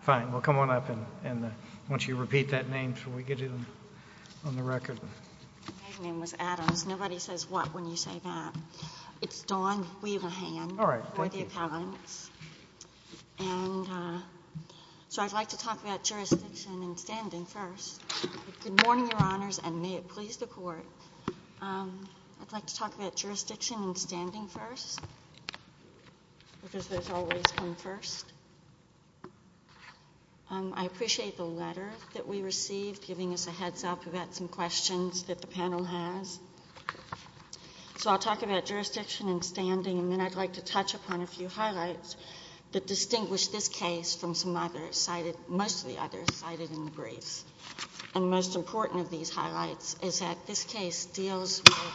Fine, we'll come on up and once you repeat that name so we can get it on the record. My name is Adams. Nobody says what when you say that. It's Dawn Weaver Hand. All right. Thank you. And so I'd like to talk about jurisdiction and standing first. Good morning, Your Honors, and may it please the Court. I'd like to talk about jurisdiction and standing first because there's always one first. I appreciate the letter that we received giving us a heads up about some questions that the panel has. So I'll talk about jurisdiction and standing, and then I'd like to touch upon a few highlights that distinguish this case from some others cited, mostly others cited in the briefs. And the most important of these highlights is that this case deals with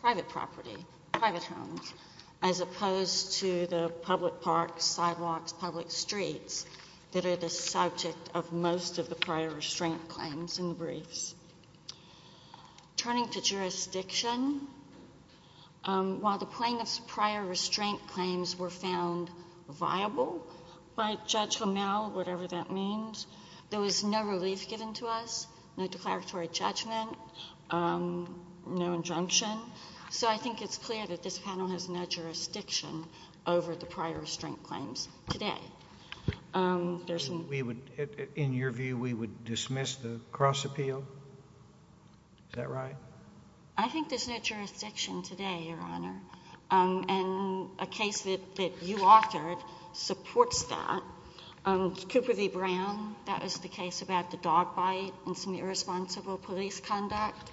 private property, private homes, as opposed to the public parks, sidewalks, public streets, that are the subject of most of the prior restraint claims in the briefs. Turning to jurisdiction, while the plaintiff's prior restraint claims were found viable by Judge Lamel, whatever that means, there was no relief given to us, no declaratory judgment, no injunction. So I think it's clear that this panel has no jurisdiction over the prior restraint claims today. In your view, we would dismiss the cross appeal? Is that right? I think there's no jurisdiction today, Your Honor. And a case that you authored supports that. Cooper v. Brown, that was the case about the dog bite and some irresponsible police conduct.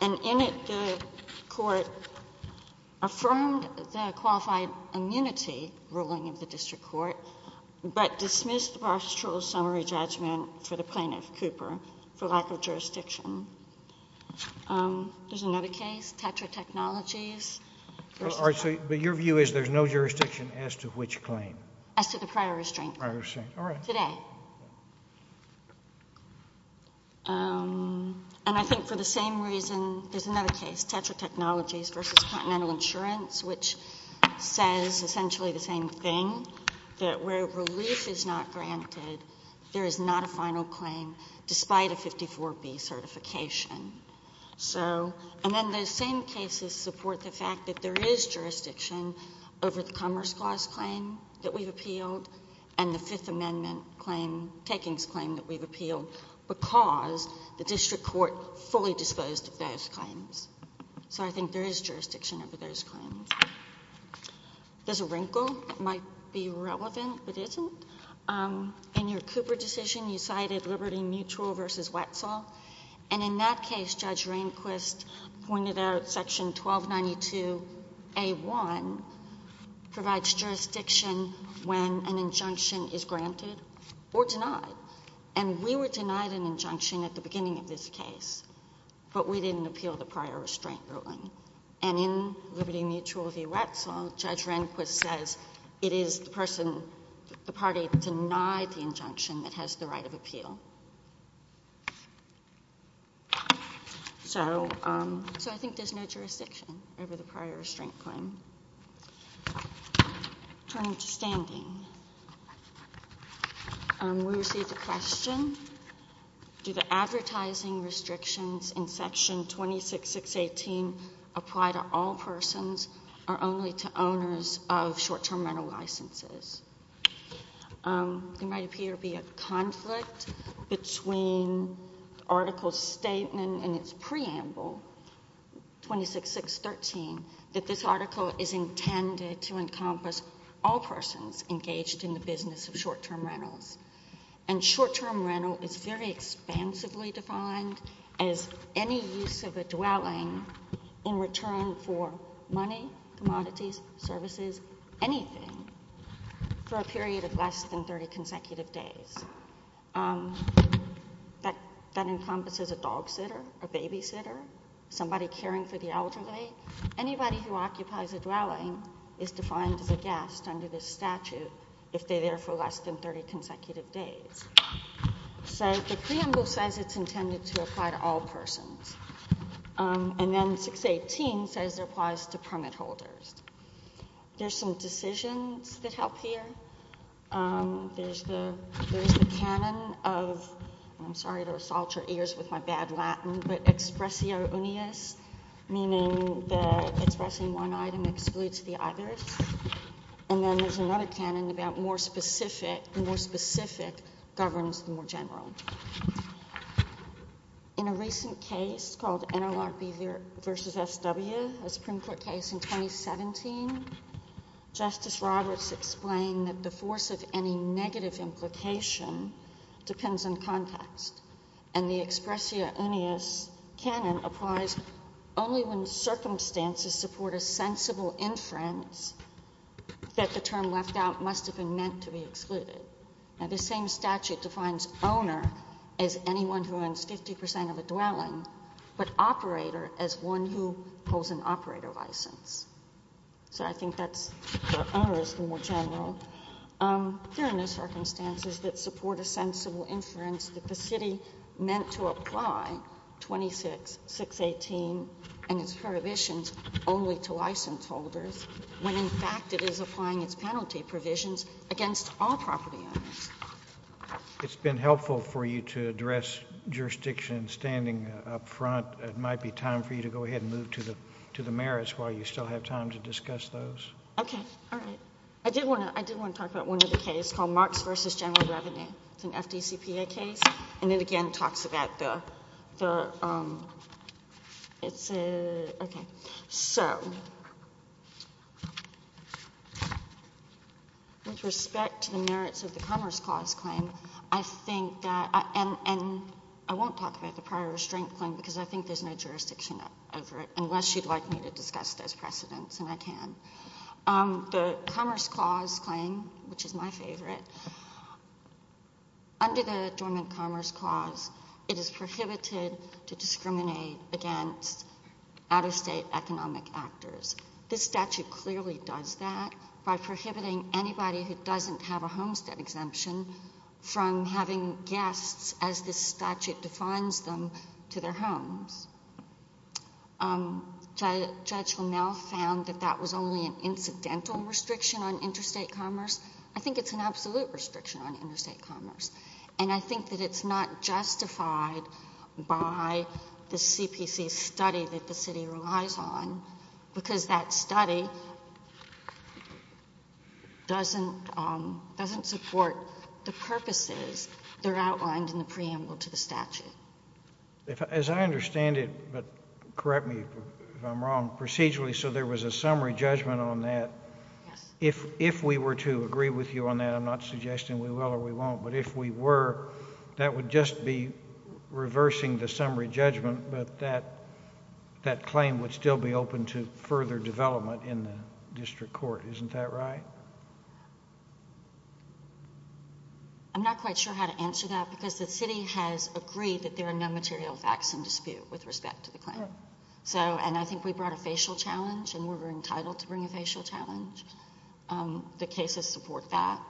And in it, the court affirmed the qualified immunity ruling of the district court, but dismissed the pastoral summary judgment for the plaintiff, Cooper, for lack of jurisdiction. There's another case, Tetra Technologies. But your view is there's no jurisdiction as to which claim? As to the prior restraint. Prior restraint, all right. Today. And I think for the same reason, there's another case, Tetra Technologies v. Continental Insurance, which says essentially the same thing, that where relief is not granted, there is not a final claim despite a 54B certification. And then those same cases support the fact that there is jurisdiction over the Commerce Clause claim that we've appealed and the Fifth Amendment claim, takings claim that we've appealed, because the district court fully disposed of those claims. So I think there is jurisdiction over those claims. There's a wrinkle that might be relevant but isn't. In your Cooper decision, you cited Liberty Mutual v. Wetzel. And in that case, Judge Rehnquist pointed out Section 1292A1 provides jurisdiction when an injunction is granted or denied. And we were denied an injunction at the beginning of this case, but we didn't appeal the prior restraint ruling. And in Liberty Mutual v. Wetzel, Judge Rehnquist says it is the person, the party denied the injunction that has the right of appeal. So I think there's no jurisdiction over the prior restraint claim. Turning to standing. We received a question. Do the advertising restrictions in Section 26618 apply to all persons or only to owners of short-term rental licenses? There might appear to be a conflict between the article's statement and its preamble, 26613, that this article is intended to encompass all persons engaged in the business of short-term rentals. And short-term rental is very expansively defined as any use of a dwelling in return for money, commodities, services, anything, for a period of less than 30 consecutive days. That encompasses a dog sitter, a babysitter, somebody caring for the elderly. Anybody who occupies a dwelling is defined as a guest under this statute if they're there for less than 30 consecutive days. So the preamble says it's intended to apply to all persons. And then 618 says it applies to permit holders. There's some decisions that help here. There's the canon of, I'm sorry to assault your ears with my bad Latin, but expressio unius, meaning that expressing one item excludes the others. And then there's another canon about the more specific governs the more general. In a recent case called NLRB v. SW, a Supreme Court case in 2017, Justice Roberts explained that the force of any negative implication depends on context. And the expressio unius canon applies only when circumstances support a sensible inference that the term left out must have been meant to be excluded. Now this same statute defines owner as anyone who owns 50 percent of a dwelling, but operator as one who holds an operator license. So I think that's for owners, the more general. There are no circumstances that support a sensible inference that the city meant to apply 26, 618, and its prohibitions only to license holders when in fact it is applying its penalty provisions against all property owners. It's been helpful for you to address jurisdiction standing up front. I thought it might be time for you to go ahead and move to the merits while you still have time to discuss those. Okay. All right. I did want to talk about one other case called Marks v. General Revenue. It's an FDCPA case, and it again talks about the, it's a, okay. So with respect to the merits of the Commerce Clause claim, I think that, and I won't talk about the prior restraint claim because I think there's no jurisdiction over it unless you'd like me to discuss those precedents, and I can. The Commerce Clause claim, which is my favorite, under the Adjournment Commerce Clause, it is prohibited to discriminate against out-of-state economic actors. This statute clearly does that by prohibiting anybody who doesn't have a homestead exemption from having guests, as this statute defines them, to their homes. Judge Lamel found that that was only an incidental restriction on interstate commerce. I think it's an absolute restriction on interstate commerce, and I think that it's not justified by the CPC study that the city relies on because that study doesn't support the purposes that are outlined in the preamble to the statute. As I understand it, but correct me if I'm wrong, procedurally, so there was a summary judgment on that. Yes. If we were to agree with you on that, I'm not suggesting we will or we won't, but if we were, that would just be reversing the summary judgment, but that claim would still be open to further development in the district court. Isn't that right? I'm not quite sure how to answer that because the city has agreed that there are no material facts in dispute with respect to the claim. I think we brought a facial challenge, and we were entitled to bring a facial challenge. The cases support that.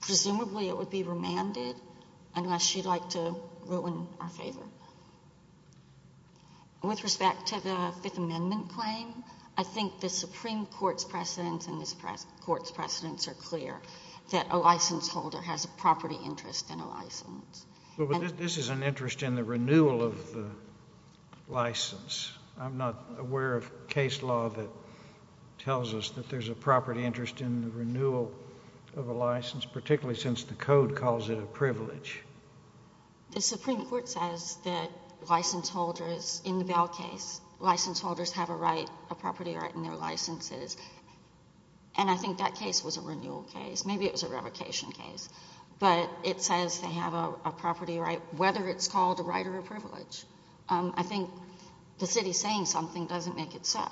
Presumably it would be remanded unless you'd like to ruin our favor. With respect to the Fifth Amendment claim, I think the Supreme Court's precedents and this Court's precedents are clear that a license holder has a property interest in a license. But this is an interest in the renewal of the license. I'm not aware of case law that tells us that there's a property interest in the renewal of a license, particularly since the code calls it a privilege. The Supreme Court says that license holders in the Bell case, license holders have a right, a property right in their licenses, and I think that case was a renewal case. Maybe it was a revocation case. But it says they have a property right, whether it's called a right or a privilege. I think the city saying something doesn't make it so.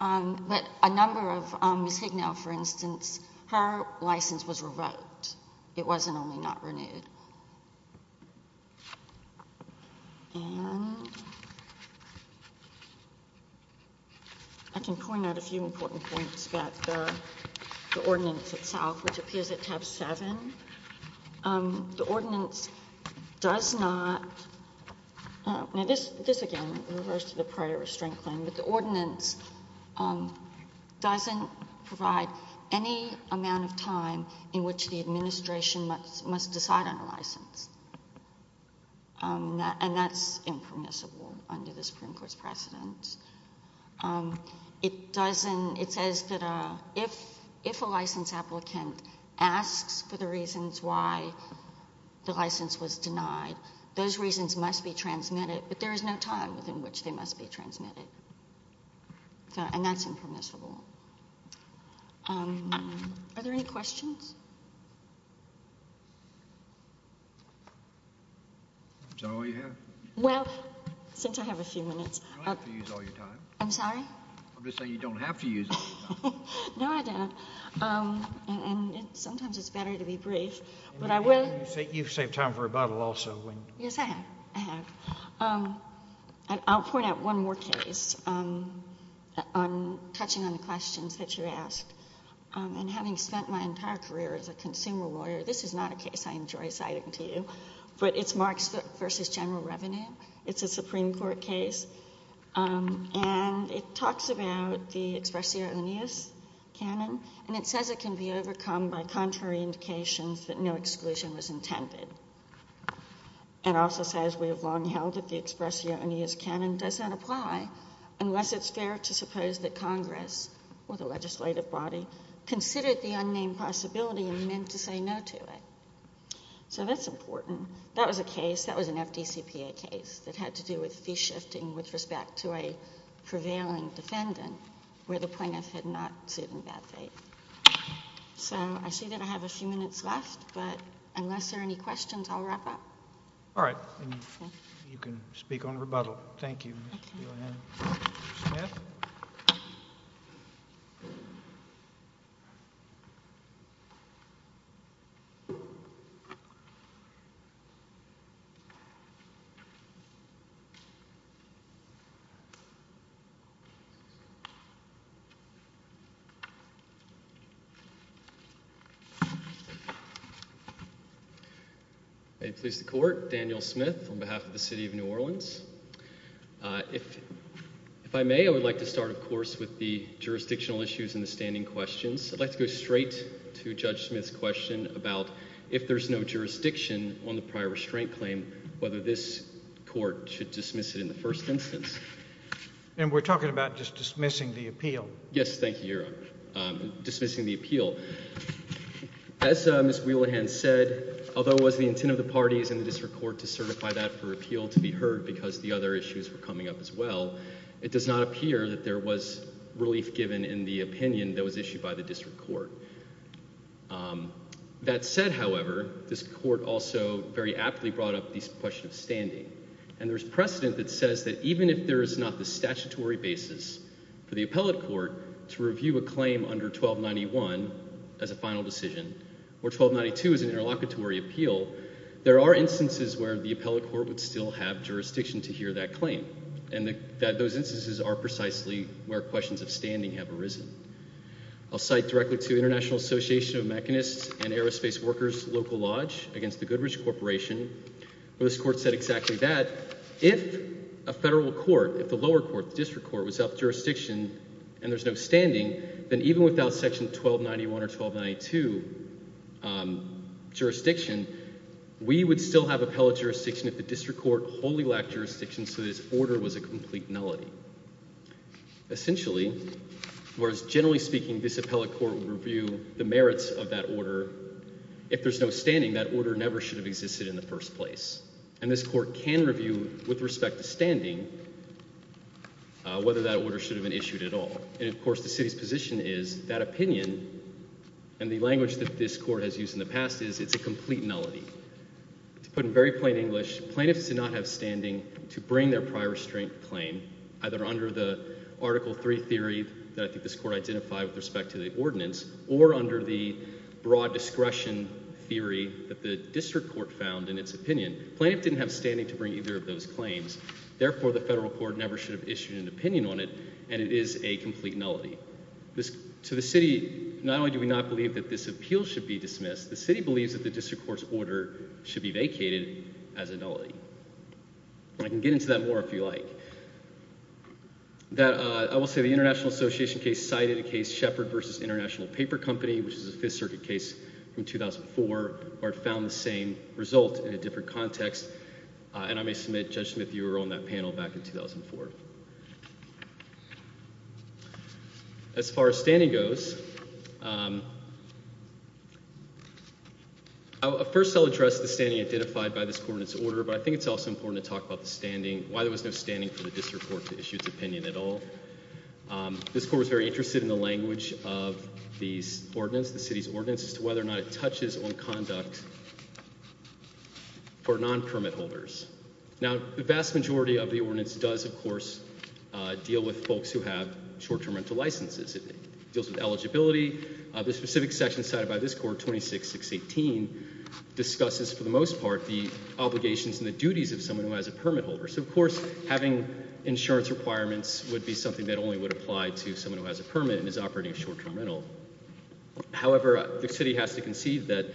But a number of Ms. Hignell, for instance, her license was revoked. It wasn't only not renewed. And I can point out a few important points about the ordinance itself, which appears at tab 7. The ordinance does not, now this again refers to the prior restraint claim, but the ordinance doesn't provide any amount of time in which the administration must decide on a license. And that's impermissible under the Supreme Court's precedents. It says that if a license applicant asks for the reasons why the license was denied, those reasons must be transmitted, but there is no time within which they must be transmitted. And that's impermissible. Are there any questions? Is that all you have? Well, since I have a few minutes. You don't have to use all your time. I'm sorry? I'm just saying you don't have to use all your time. No, I don't. And sometimes it's better to be brief. You've saved time for rebuttal also. Yes, I have. I have. I'll point out one more case, touching on the questions that you asked. And having spent my entire career as a consumer lawyer, this is not a case I enjoy citing to you, but it's Marks v. General Revenue. It's a Supreme Court case, and it talks about the expressio oneus canon, and it says it can be overcome by contrary indications that no exclusion was intended. It also says we have long held that the expressio oneus canon does not apply unless it's fair to suppose that Congress or the legislative body considered the unnamed possibility and meant to say no to it. So that's important. That was a case, that was an FDCPA case that had to do with fee shifting with respect to a prevailing defendant where the plaintiff had not sued in bad faith. So I see that I have a few minutes left, but unless there are any questions, I'll wrap up. All right. You can speak on rebuttal. Thank you. Mr. Court, Daniel Smith on behalf of the city of New Orleans. If I may, I would like to start, of course, with the jurisdictional issues and the standing questions. I'd like to go straight to Judge Smith's question about if there's no jurisdiction on the prior restraint claim, whether this court should dismiss it in the first instance. And we're talking about just dismissing the appeal. Yes, thank you, Your Honor. Dismissing the appeal. As Ms. Wheelahan said, although it was the intent of the parties in the district court to certify that for appeal to be heard because the other issues were coming up as well, it does not appear that there was relief given in the opinion that was issued by the district court. That said, however, this court also very aptly brought up the question of standing. And there's precedent that says that even if there is not the statutory basis for the appellate court to review a claim under 1291 as a final decision, or 1292 as an interlocutory appeal, there are instances where the appellate court would still have jurisdiction to hear that claim. And those instances are precisely where questions of standing have arisen. I'll cite directly to the International Association of Mechanists and Aerospace Workers Local Lodge against the Goodrich Corporation. This court said exactly that. If a federal court, if the lower court, the district court, was of jurisdiction and there's no standing, then even without section 1291 or 1292 jurisdiction, we would still have appellate jurisdiction if the district court wholly lacked jurisdiction so that its order was a complete nullity. Essentially, whereas generally speaking, this appellate court would review the merits of that order, if there's no standing, that order never should have existed in the first place. And this court can review with respect to standing whether that order should have been issued at all. And, of course, the city's position is that opinion and the language that this court has used in the past is it's a complete nullity. To put it in very plain English, plaintiffs did not have standing to bring their prior restraint claim, either under the Article III theory that I think this court identified with respect to the ordinance or under the broad discretion theory that the district court found in its opinion. Plaintiffs didn't have standing to bring either of those claims. Therefore, the federal court never should have issued an opinion on it, and it is a complete nullity. To the city, not only do we not believe that this appeal should be dismissed, the city believes that the district court's order should be vacated as a nullity. And I can get into that more if you like. I will say the International Association case cited a case, Shepard v. International Paper Company, which is a Fifth Circuit case from 2004 where it found the same result in a different context. And I may submit, Judge Smith, you were on that panel back in 2004. As far as standing goes, first I'll address the standing identified by this ordinance order, but I think it's also important to talk about the standing, why there was no standing for the district court to issue its opinion at all. This court was very interested in the language of these ordinance, the city's ordinance, as to whether or not it touches on conduct for non-permit holders. Now, the vast majority of the ordinance does, of course, deal with folks who have short-term rental licenses. It deals with eligibility. The specific section cited by this court, 26-618, discusses, for the most part, the obligations and the duties of someone who has a permit holder. So, of course, having insurance requirements would be something that only would apply to someone who has a permit and is operating short-term rental. However, the city has to concede that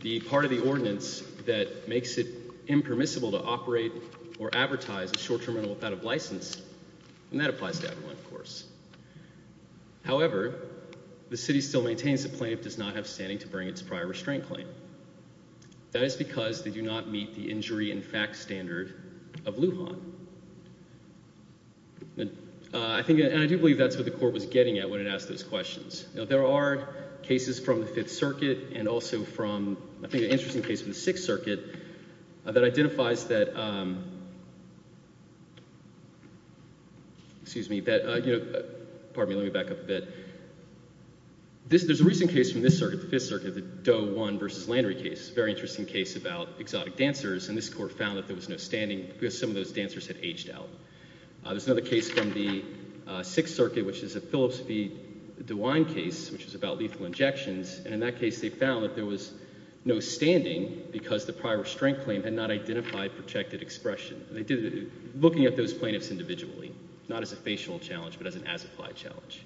the part of the ordinance that makes it impermissible to operate or advertise a short-term rental without a license, and that applies to everyone, of course. However, the city still maintains the plaintiff does not have standing to bring its prior restraint claim. That is because they do not meet the injury and facts standard of Lujan. And I do believe that's what the court was getting at when it asked those questions. Now, there are cases from the Fifth Circuit and also from, I think, an interesting case from the Sixth Circuit that identifies that, excuse me, pardon me, let me back up a bit. There's a recent case from this circuit, the Fifth Circuit, the Doe 1 v. Landry case, a very interesting case about exotic dancers, and this court found that there was no standing because some of those dancers had aged out. There's another case from the Sixth Circuit, which is a Phillips v. DeWine case, which is about lethal injections, and in that case they found that there was no standing because the prior restraint claim had not identified protected expression. They did it looking at those plaintiffs individually, not as a facial challenge, but as an as-applied challenge.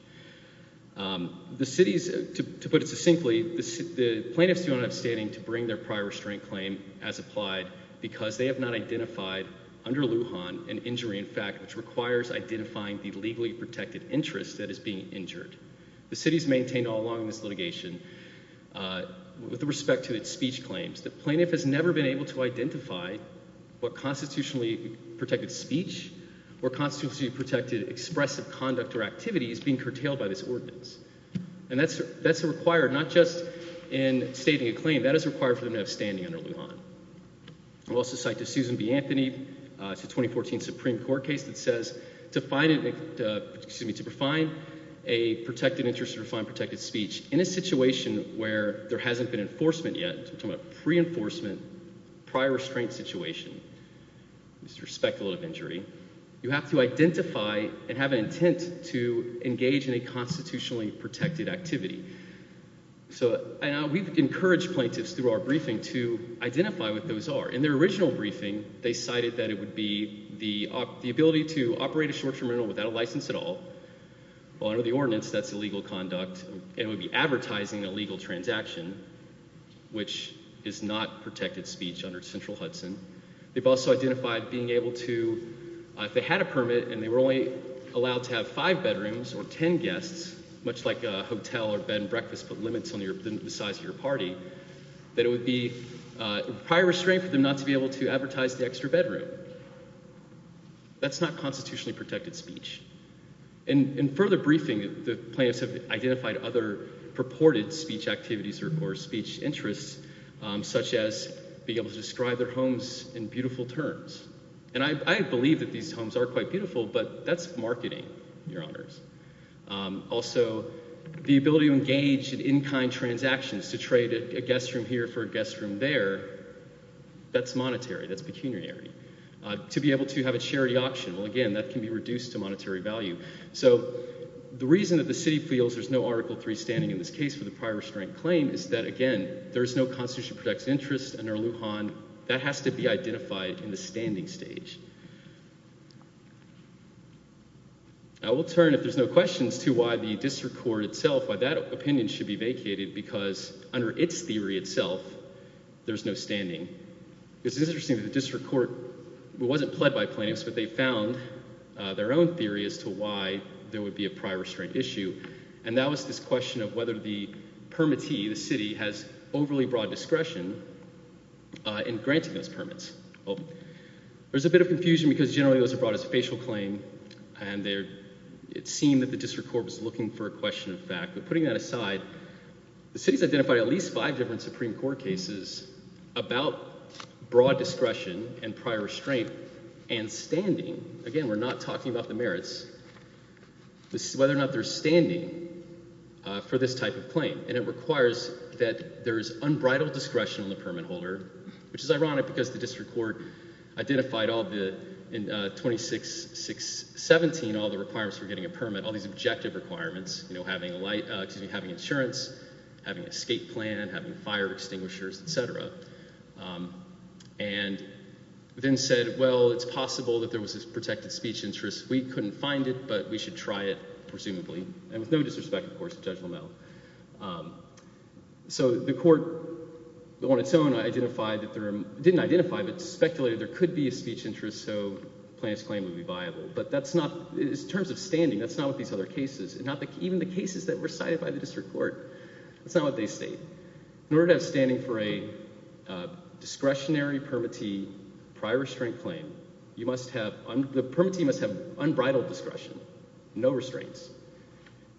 The city's, to put it succinctly, the plaintiffs do not have standing to bring their prior restraint claim as applied because they have not identified, under Lujan, an injury in fact, which requires identifying the legally protected interest that is being injured. The city's maintained all along in this litigation, with respect to its speech claims, the plaintiff has never been able to identify what constitutionally protected speech or constitutionally protected expressive conduct or activity is being curtailed by this ordinance. And that's required, not just in stating a claim, that is required for them to have standing under Lujan. I'll also cite the Susan B. Anthony, it's a 2014 Supreme Court case that says, to find a protected interest or to find protected speech in a situation where there hasn't been enforcement yet, we're talking about a pre-enforcement, prior restraint situation, with respect to a load of injury, you have to identify and have an intent to engage in a constitutionally protected activity. So, we've encouraged plaintiffs through our briefing to identify what those are. In their original briefing, they cited that it would be the ability to operate a short-term rental without a license at all, well under the ordinance that's illegal conduct, and it would be advertising a legal transaction, which is not protected speech under central Hudson. They've also identified being able to, if they had a permit and they were only allowed to have five bedrooms or ten guests, much like a hotel or bed and breakfast, but limits on the size of your party, that it would be prior restraint for them not to be able to advertise the extra bedroom. That's not constitutionally protected speech. In further briefing, the plaintiffs have identified other purported speech activities or speech interests, such as being able to describe their homes in beautiful terms. And I believe that these homes are quite beautiful, but that's marketing, Your Honors. Also, the ability to engage in in-kind transactions, to trade a guest room here for a guest room there, that's monetary, that's pecuniary. To be able to have a charity auction, well again, that can be reduced to monetary value. So, the reason that the city feels there's no Article III standing in this case for the prior restraint claim is that, again, there's no constitutionally protected interest under Lujan. That has to be identified in the standing stage. I will turn, if there's no questions, to why the district court itself, why that opinion should be vacated, because under its theory itself, there's no standing. It's interesting that the district court wasn't pled by plaintiffs, but they found their own theory as to why there would be a prior restraint issue. And that was this question of whether the permittee, the city, has overly broad discretion in granting those permits. There's a bit of confusion because generally those are brought as a facial claim, and it seemed that the district court was looking for a question of fact. But putting that aside, the city's identified at least five different Supreme Court cases about broad discretion and prior restraint and standing. Again, we're not talking about the merits. This is whether or not there's standing for this type of claim, and it requires that there is unbridled discretion on the permit holder, which is ironic because the district court identified in 26.617 all the requirements for getting a permit, all these objective requirements, having insurance, having an escape plan, having fire extinguishers, etc. And then said, well, it's possible that there was a protected speech interest. We couldn't find it, but we should try it, presumably. And with no disrespect, of course, to Judge Lamel. So the court on its own didn't identify, but speculated there could be a speech interest, so the plaintiff's claim would be viable. But in terms of standing, that's not with these other cases. Even the cases that were cited by the district court, that's not what they state. In order to have standing for a discretionary permittee prior restraint claim, the permittee must have unbridled discretion, no restraints.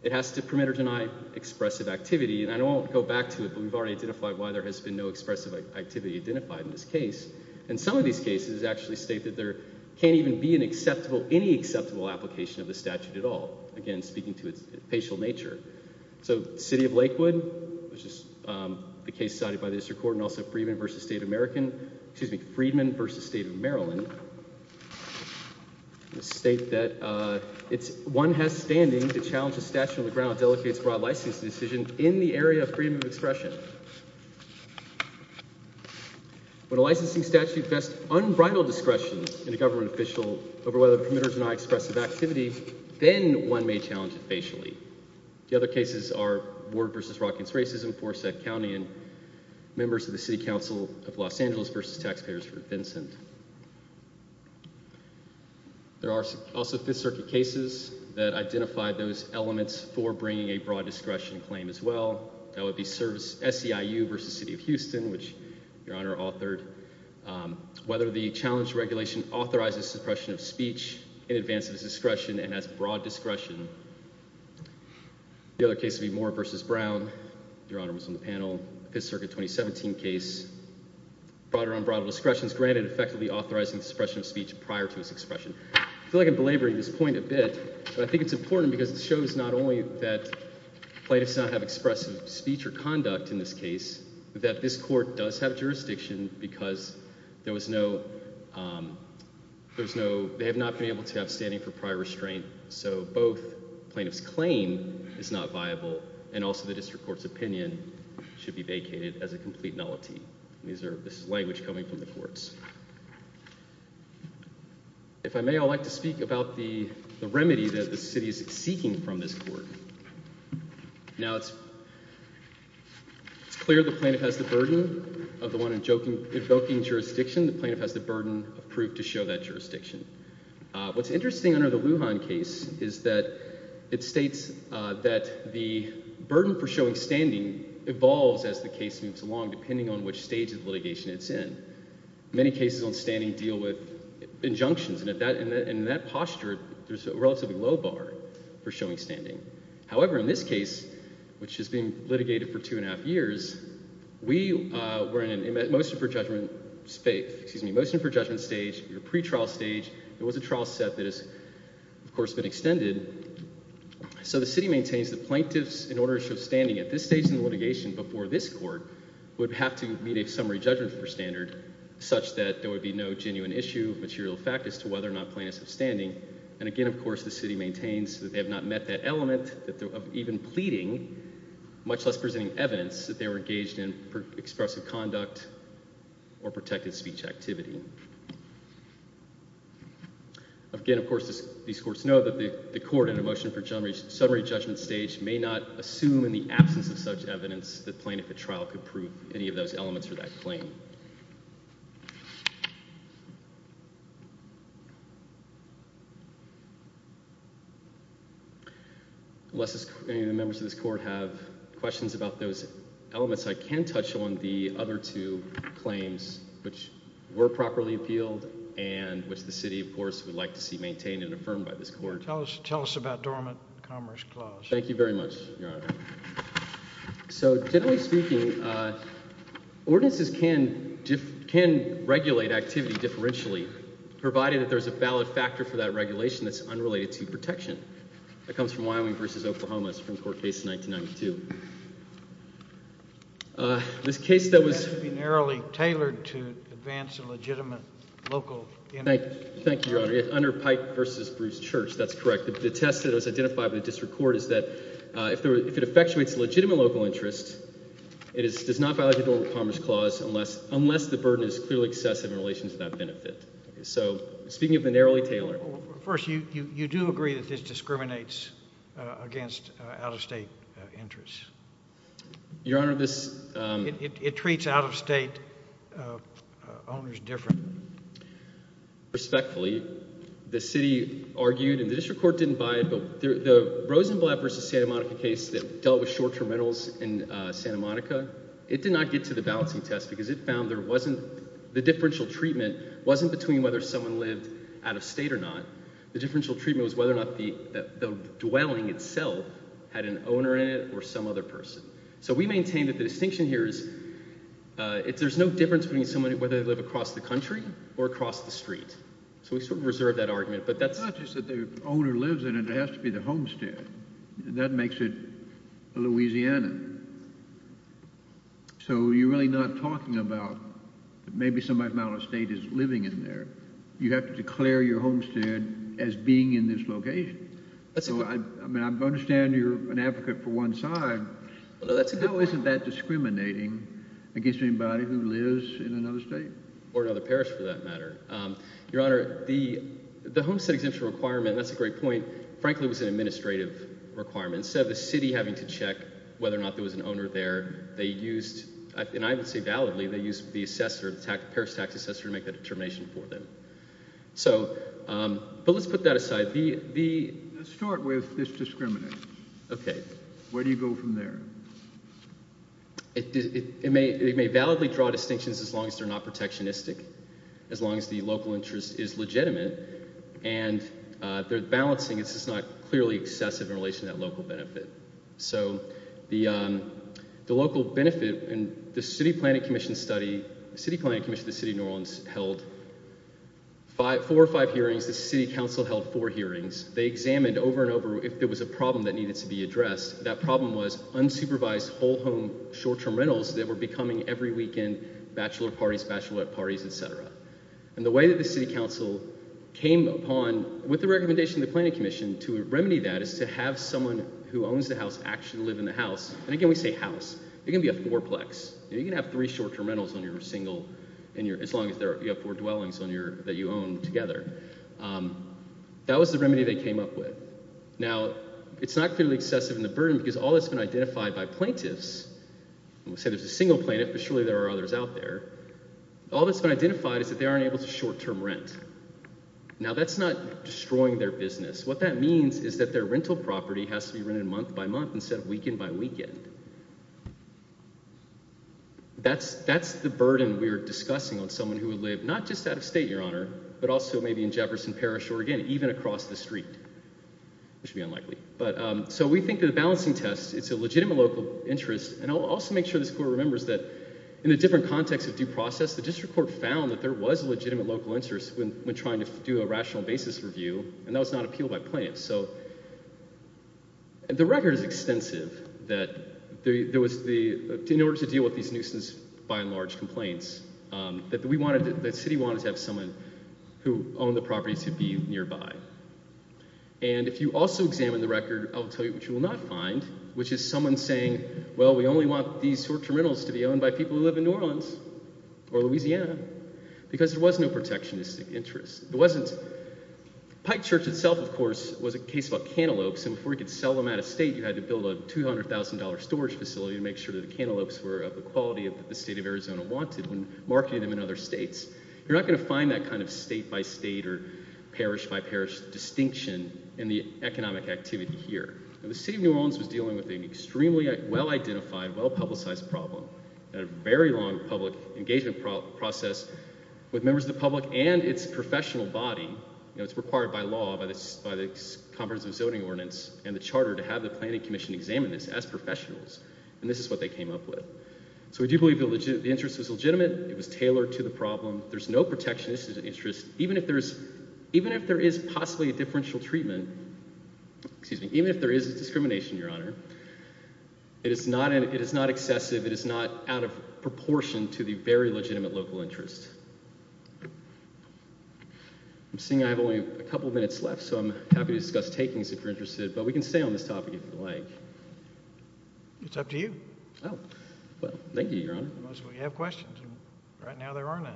It has to permit or deny expressive activity, and I won't go back to it, but we've already identified why there has been no expressive activity identified in this case. And some of these cases actually state that there can't even be an acceptable, any acceptable application of the statute at all, again, speaking to its facial nature. So City of Lakewood, which is the case cited by the district court, and also Freedman v. State of Maryland, state that one has standing to challenge a statute on the ground that delegates broad licensing decisions in the area of freedom of expression. When a licensing statute vests unbridled discretion in a government official over whether the permitters deny expressive activity, then one may challenge it facially. The other cases are Ward v. Rockings Racism, Forsyth County, and members of the City Council of Los Angeles v. Taxpayers v. Vincent. There are also Fifth Circuit cases that identified those elements for bringing a broad discretion claim as well. That would be SEIU v. City of Houston, which Your Honor authored, whether the challenge regulation authorizes suppression of speech in advance of its discretion and has broad discretion. The other case would be Moore v. Brown. Your Honor was on the panel. Fifth Circuit 2017 case, broader unbridled discretion is granted, effectively authorizing suppression of speech prior to its expression. I feel like I'm belaboring this point a bit, but I think it's important because it shows not only that plaintiffs do not have expressive speech or conduct in this case, but that this court does have jurisdiction because there was no, there was no, they have not been able to have standing for prior restraint. So both plaintiffs' claim is not viable, and also the district court's opinion should be vacated as a complete nullity. This is language coming from the courts. If I may, I'd like to speak about the remedy that the city is seeking from this court. Now it's clear the plaintiff has the burden of the one evoking jurisdiction. The plaintiff has the burden of proof to show that jurisdiction. What's interesting under the Lujan case is that it states that the burden for showing standing evolves as the case moves along, depending on which stage of litigation it's in. Many cases on standing deal with injunctions, and in that posture, there's a relatively low bar for showing standing. However, in this case, which has been litigated for two and a half years, we were in a motion for judgment stage, a pretrial stage. It was a trial set that has, of course, been extended. So the city maintains that plaintiffs, in order to show standing at this stage in litigation before this court, would have to meet a summary judgment for standard such that there would be no genuine issue of material fact as to whether or not plaintiffs have standing. And again, of course, the city maintains that they have not met that element of even pleading, much less presenting evidence that they were engaged in expressive conduct or protected speech activity. Again, of course, these courts know that the court in a motion for summary judgment stage may not assume in the absence of such evidence that plaintiff at trial could prove any of those elements for that claim. Thank you. Unless any of the members of this court have questions about those elements, I can touch on the other two claims which were properly appealed and which the city, of course, would like to see maintained and affirmed by this court. Tell us about dormant commerce clause. Thank you very much, Your Honor. So generally speaking, ordinances can regulate activity differentially, provided that there's a valid factor for that regulation that's unrelated to protection. That comes from Wyoming v. Oklahoma. It's a Supreme Court case in 1992. This case that was- Narrowly tailored to advance a legitimate local interest. Thank you, Your Honor. Under Pike v. Bruce Church, that's correct. The test that was identified by the district court is that if it effectuates a legitimate local interest, it does not violate the dormant commerce clause unless the burden is clearly excessive in relation to that benefit. So speaking of the narrowly tailored- First, you do agree that this discriminates against out-of-state interests. Your Honor, this- It treats out-of-state owners differently. Respectfully, the city argued, and the district court didn't buy it, but the Rosenblatt v. Santa Monica case that dealt with short-term rentals in Santa Monica, it did not get to the balancing test because it found there wasn't- the differential treatment wasn't between whether someone lived out-of-state or not. The differential treatment was whether or not the dwelling itself had an owner in it or some other person. So we maintain that the distinction here is there's no difference between whether they live across the country or across the street. So we sort of reserve that argument, but that's- It's not just that the owner lives in it. It has to be the homestead. That makes it Louisiana. So you're really not talking about maybe somebody from out-of-state is living in there. You have to declare your homestead as being in this location. I mean, I understand you're an advocate for one side, but isn't that discriminating against anybody who lives in another state? Or another parish, for that matter. Your Honor, the homestead exemption requirement, and that's a great point, frankly, was an administrative requirement. Instead of the city having to check whether or not there was an owner there, they used- and I would say validly, they used the assessor, the parish tax assessor, to make the determination for them. But let's put that aside. Let's start with this discrimination. Okay. Where do you go from there? It may validly draw distinctions as long as they're not protectionistic, as long as the local interest is legitimate, and their balancing is just not clearly excessive in relation to that local benefit. So the local benefit in the City Planning Commission study- the City Planning Commission of the City of New Orleans held four or five hearings. The City Council held four hearings. They examined over and over if there was a problem that needed to be addressed. That problem was unsupervised, whole-home, short-term rentals that were becoming every weekend bachelor parties, bachelorette parties, etc. And the way that the City Council came upon, with the recommendation of the Planning Commission, to remedy that is to have someone who owns the house actually live in the house. And again, we say house. It can be a fourplex. You can have three short-term rentals on your single- as long as you have four dwellings that you own together. That was the remedy they came up with. Now, it's not clearly excessive in the burden because all that's been identified by plaintiffs- and we'll say there's a single plaintiff, but surely there are others out there- all that's been identified is that they aren't able to short-term rent. Now, that's not destroying their business. What that means is that their rental property has to be rented month by month instead of weekend by weekend. That's the burden we're discussing on someone who would live not just out of state, Your Honor, but also maybe in Jefferson Parish or, again, even across the street, which would be unlikely. So we think that the balancing test, it's a legitimate local interest, and I'll also make sure this Court remembers that in a different context of due process, the District Court found that there was a legitimate local interest when trying to do a rational basis review, and that was not appealed by plaintiffs. So the record is extensive that in order to deal with these nuisance by and large complaints, that the city wanted to have someone who owned the property to be nearby. And if you also examine the record, I'll tell you what you will not find, which is someone saying, well, we only want these short-term rentals to be owned by people who live in New Orleans or Louisiana because there was no protectionist interest. Pike Church itself, of course, was a case about cantaloupes, and before you could sell them out of state, you had to build a $200,000 storage facility to make sure that the cantaloupes were of the quality that the State of Arizona wanted when marketing them in other states. You're not going to find that kind of state-by-state or parish-by-parish distinction in the economic activity here. The City of New Orleans was dealing with an extremely well-identified, well-publicized problem and a very long public engagement process with members of the public and its professional body. It's required by law, by the Conference of Zoning Ordinance and the Charter, to have the Planning Commission examine this as professionals, and this is what they came up with. So we do believe the interest was legitimate. It was tailored to the problem. There's no protectionist interest. Even if there is possibly a differential treatment, even if there is discrimination, Your Honor, it is not excessive, it is not out of proportion to the very legitimate local interest. I'm seeing I have only a couple minutes left, so I'm happy to discuss takings if you're interested, but we can stay on this topic if you'd like. It's up to you. Oh, well, thank you, Your Honor. You have questions, and right now there aren't any.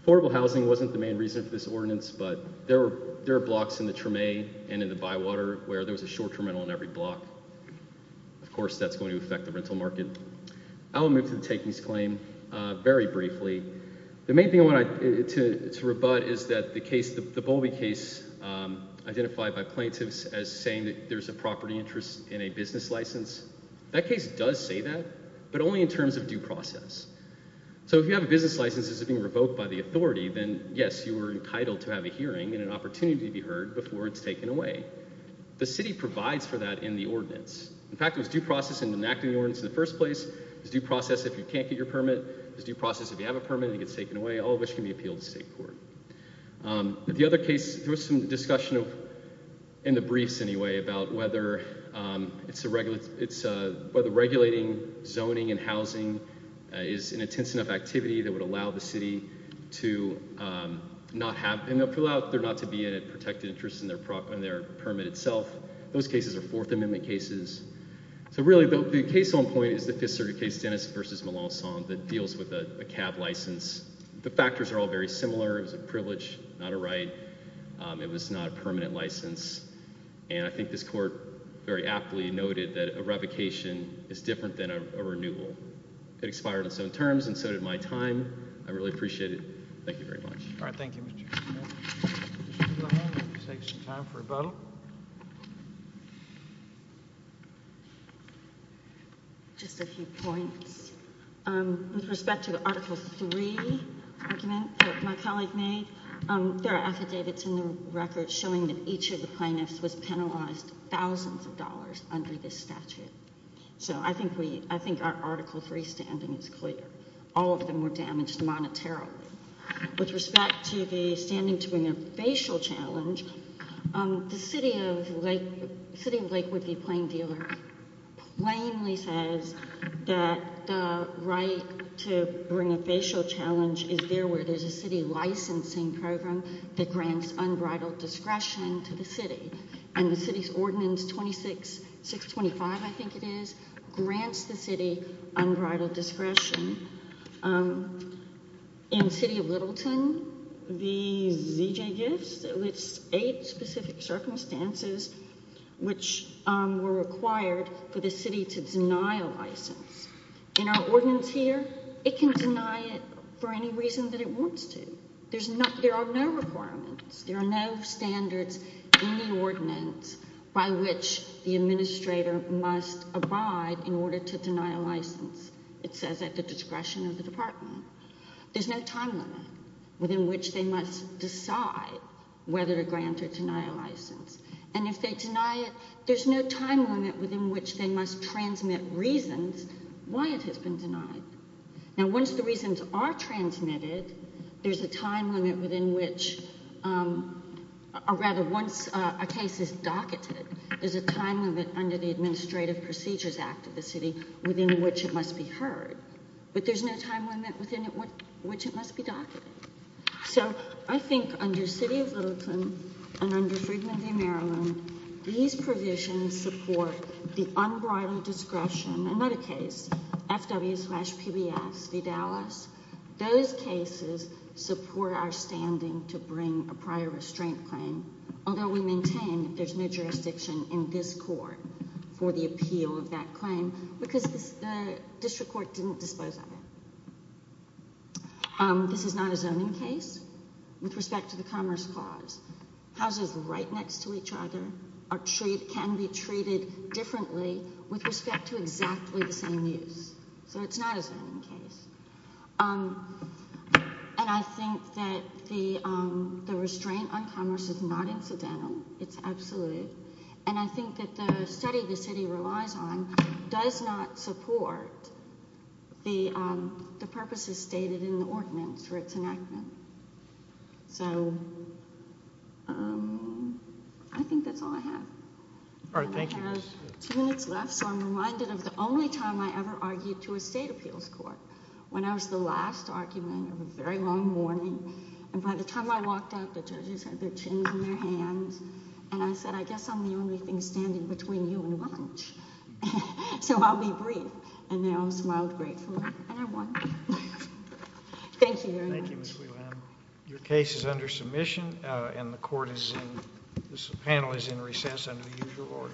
Affordable housing wasn't the main reason for this ordinance, but there are blocks in the Treme and in the Bywater where there was a short-term rental on every block. Of course, that's going to affect the rental market. I will move to the takings claim very briefly. The main thing I want to rebut is that the case, the Bowlby case, identified by plaintiffs as saying that there's a property interest in a business license, that case does say that, but only in terms of due process. So if you have a business license that's being revoked by the authority, then, yes, you are entitled to have a hearing and an opportunity to be heard before it's taken away. The city provides for that in the ordinance. In fact, it was due process in enacting the ordinance in the first place. It was due process if you can't get your permit. It was due process if you have a permit and it gets taken away, all of which can be appealed to state court. The other case, there was some discussion in the briefs, anyway, about whether regulating zoning and housing is an intense enough activity that would allow the city to not have, and allow there not to be a protected interest in their permit itself. Those cases are Fourth Amendment cases. So, really, the case on point is the Fifth Circuit case, Dennis v. Melancon, that deals with a cab license. The factors are all very similar. It was a privilege, not a right. It was not a permanent license. And I think this court very aptly noted that a revocation is different than a renewal. It expired on its own terms, and so did my time. I really appreciate it. Thank you very much. All right, thank you, Mr. Chairman. Let's take some time for a vote. Just a few points. With respect to the Article III argument that my colleague made, there are affidavits in the record showing that each of the plaintiffs was penalized thousands of dollars under this statute. So I think our Article III standing is clear. All of them were damaged monetarily. With respect to the standing to bring a facial challenge, the city of Lakewood v. Plaindealer plainly says that the right to bring a facial challenge is there where there's a city licensing program that grants unbridled discretion to the city. And the city's Ordinance 625, I think it is, grants the city unbridled discretion. In the city of Littleton, the ZJ Gifts, it lists eight specific circumstances which were required for the city to deny a license. In our ordinance here, it can deny it for any reason that it wants to. There are no requirements. There are no standards in the ordinance by which the administrator must abide in order to deny a license. It says at the discretion of the department. There's no time limit within which they must decide whether to grant or deny a license. And if they deny it, there's no time limit within which they must transmit reasons why it has been denied. Now once the reasons are transmitted, there's a time limit within which, or rather once a case is docketed, there's a time limit under the Administrative Procedures Act of the city within which it must be heard. But there's no time limit within which it must be docketed. So I think under city of Littleton and under Friedman v. Maryland, these provisions support the unbroadened discretion, another case, FW-PBS v. Dallas. Those cases support our standing to bring a prior restraint claim, although we maintain that there's no jurisdiction in this court for the appeal of that claim because the district court didn't dispose of it. This is not a zoning case. With respect to the Commerce Clause, houses right next to each other can be treated differently with respect to exactly the same use. So it's not a zoning case. And I think that the restraint on commerce is not incidental. It's absolute. And I think that the study the city relies on does not support the purposes stated in the ordinance for its enactment. So I think that's all I have. All right, thank you. I have two minutes left, so I'm reminded of the only time I ever argued to a state appeals court when I was the last argument of a very long morning. And by the time I walked out, the judges had their chins in their hands, and I said, I guess I'm the only thing standing between you and lunch, so I'll be brief. And they all smiled gratefully, and I won. Thank you very much. Thank you, Ms. Wheelan. Your case is under submission, and the panel is in recess under the usual order.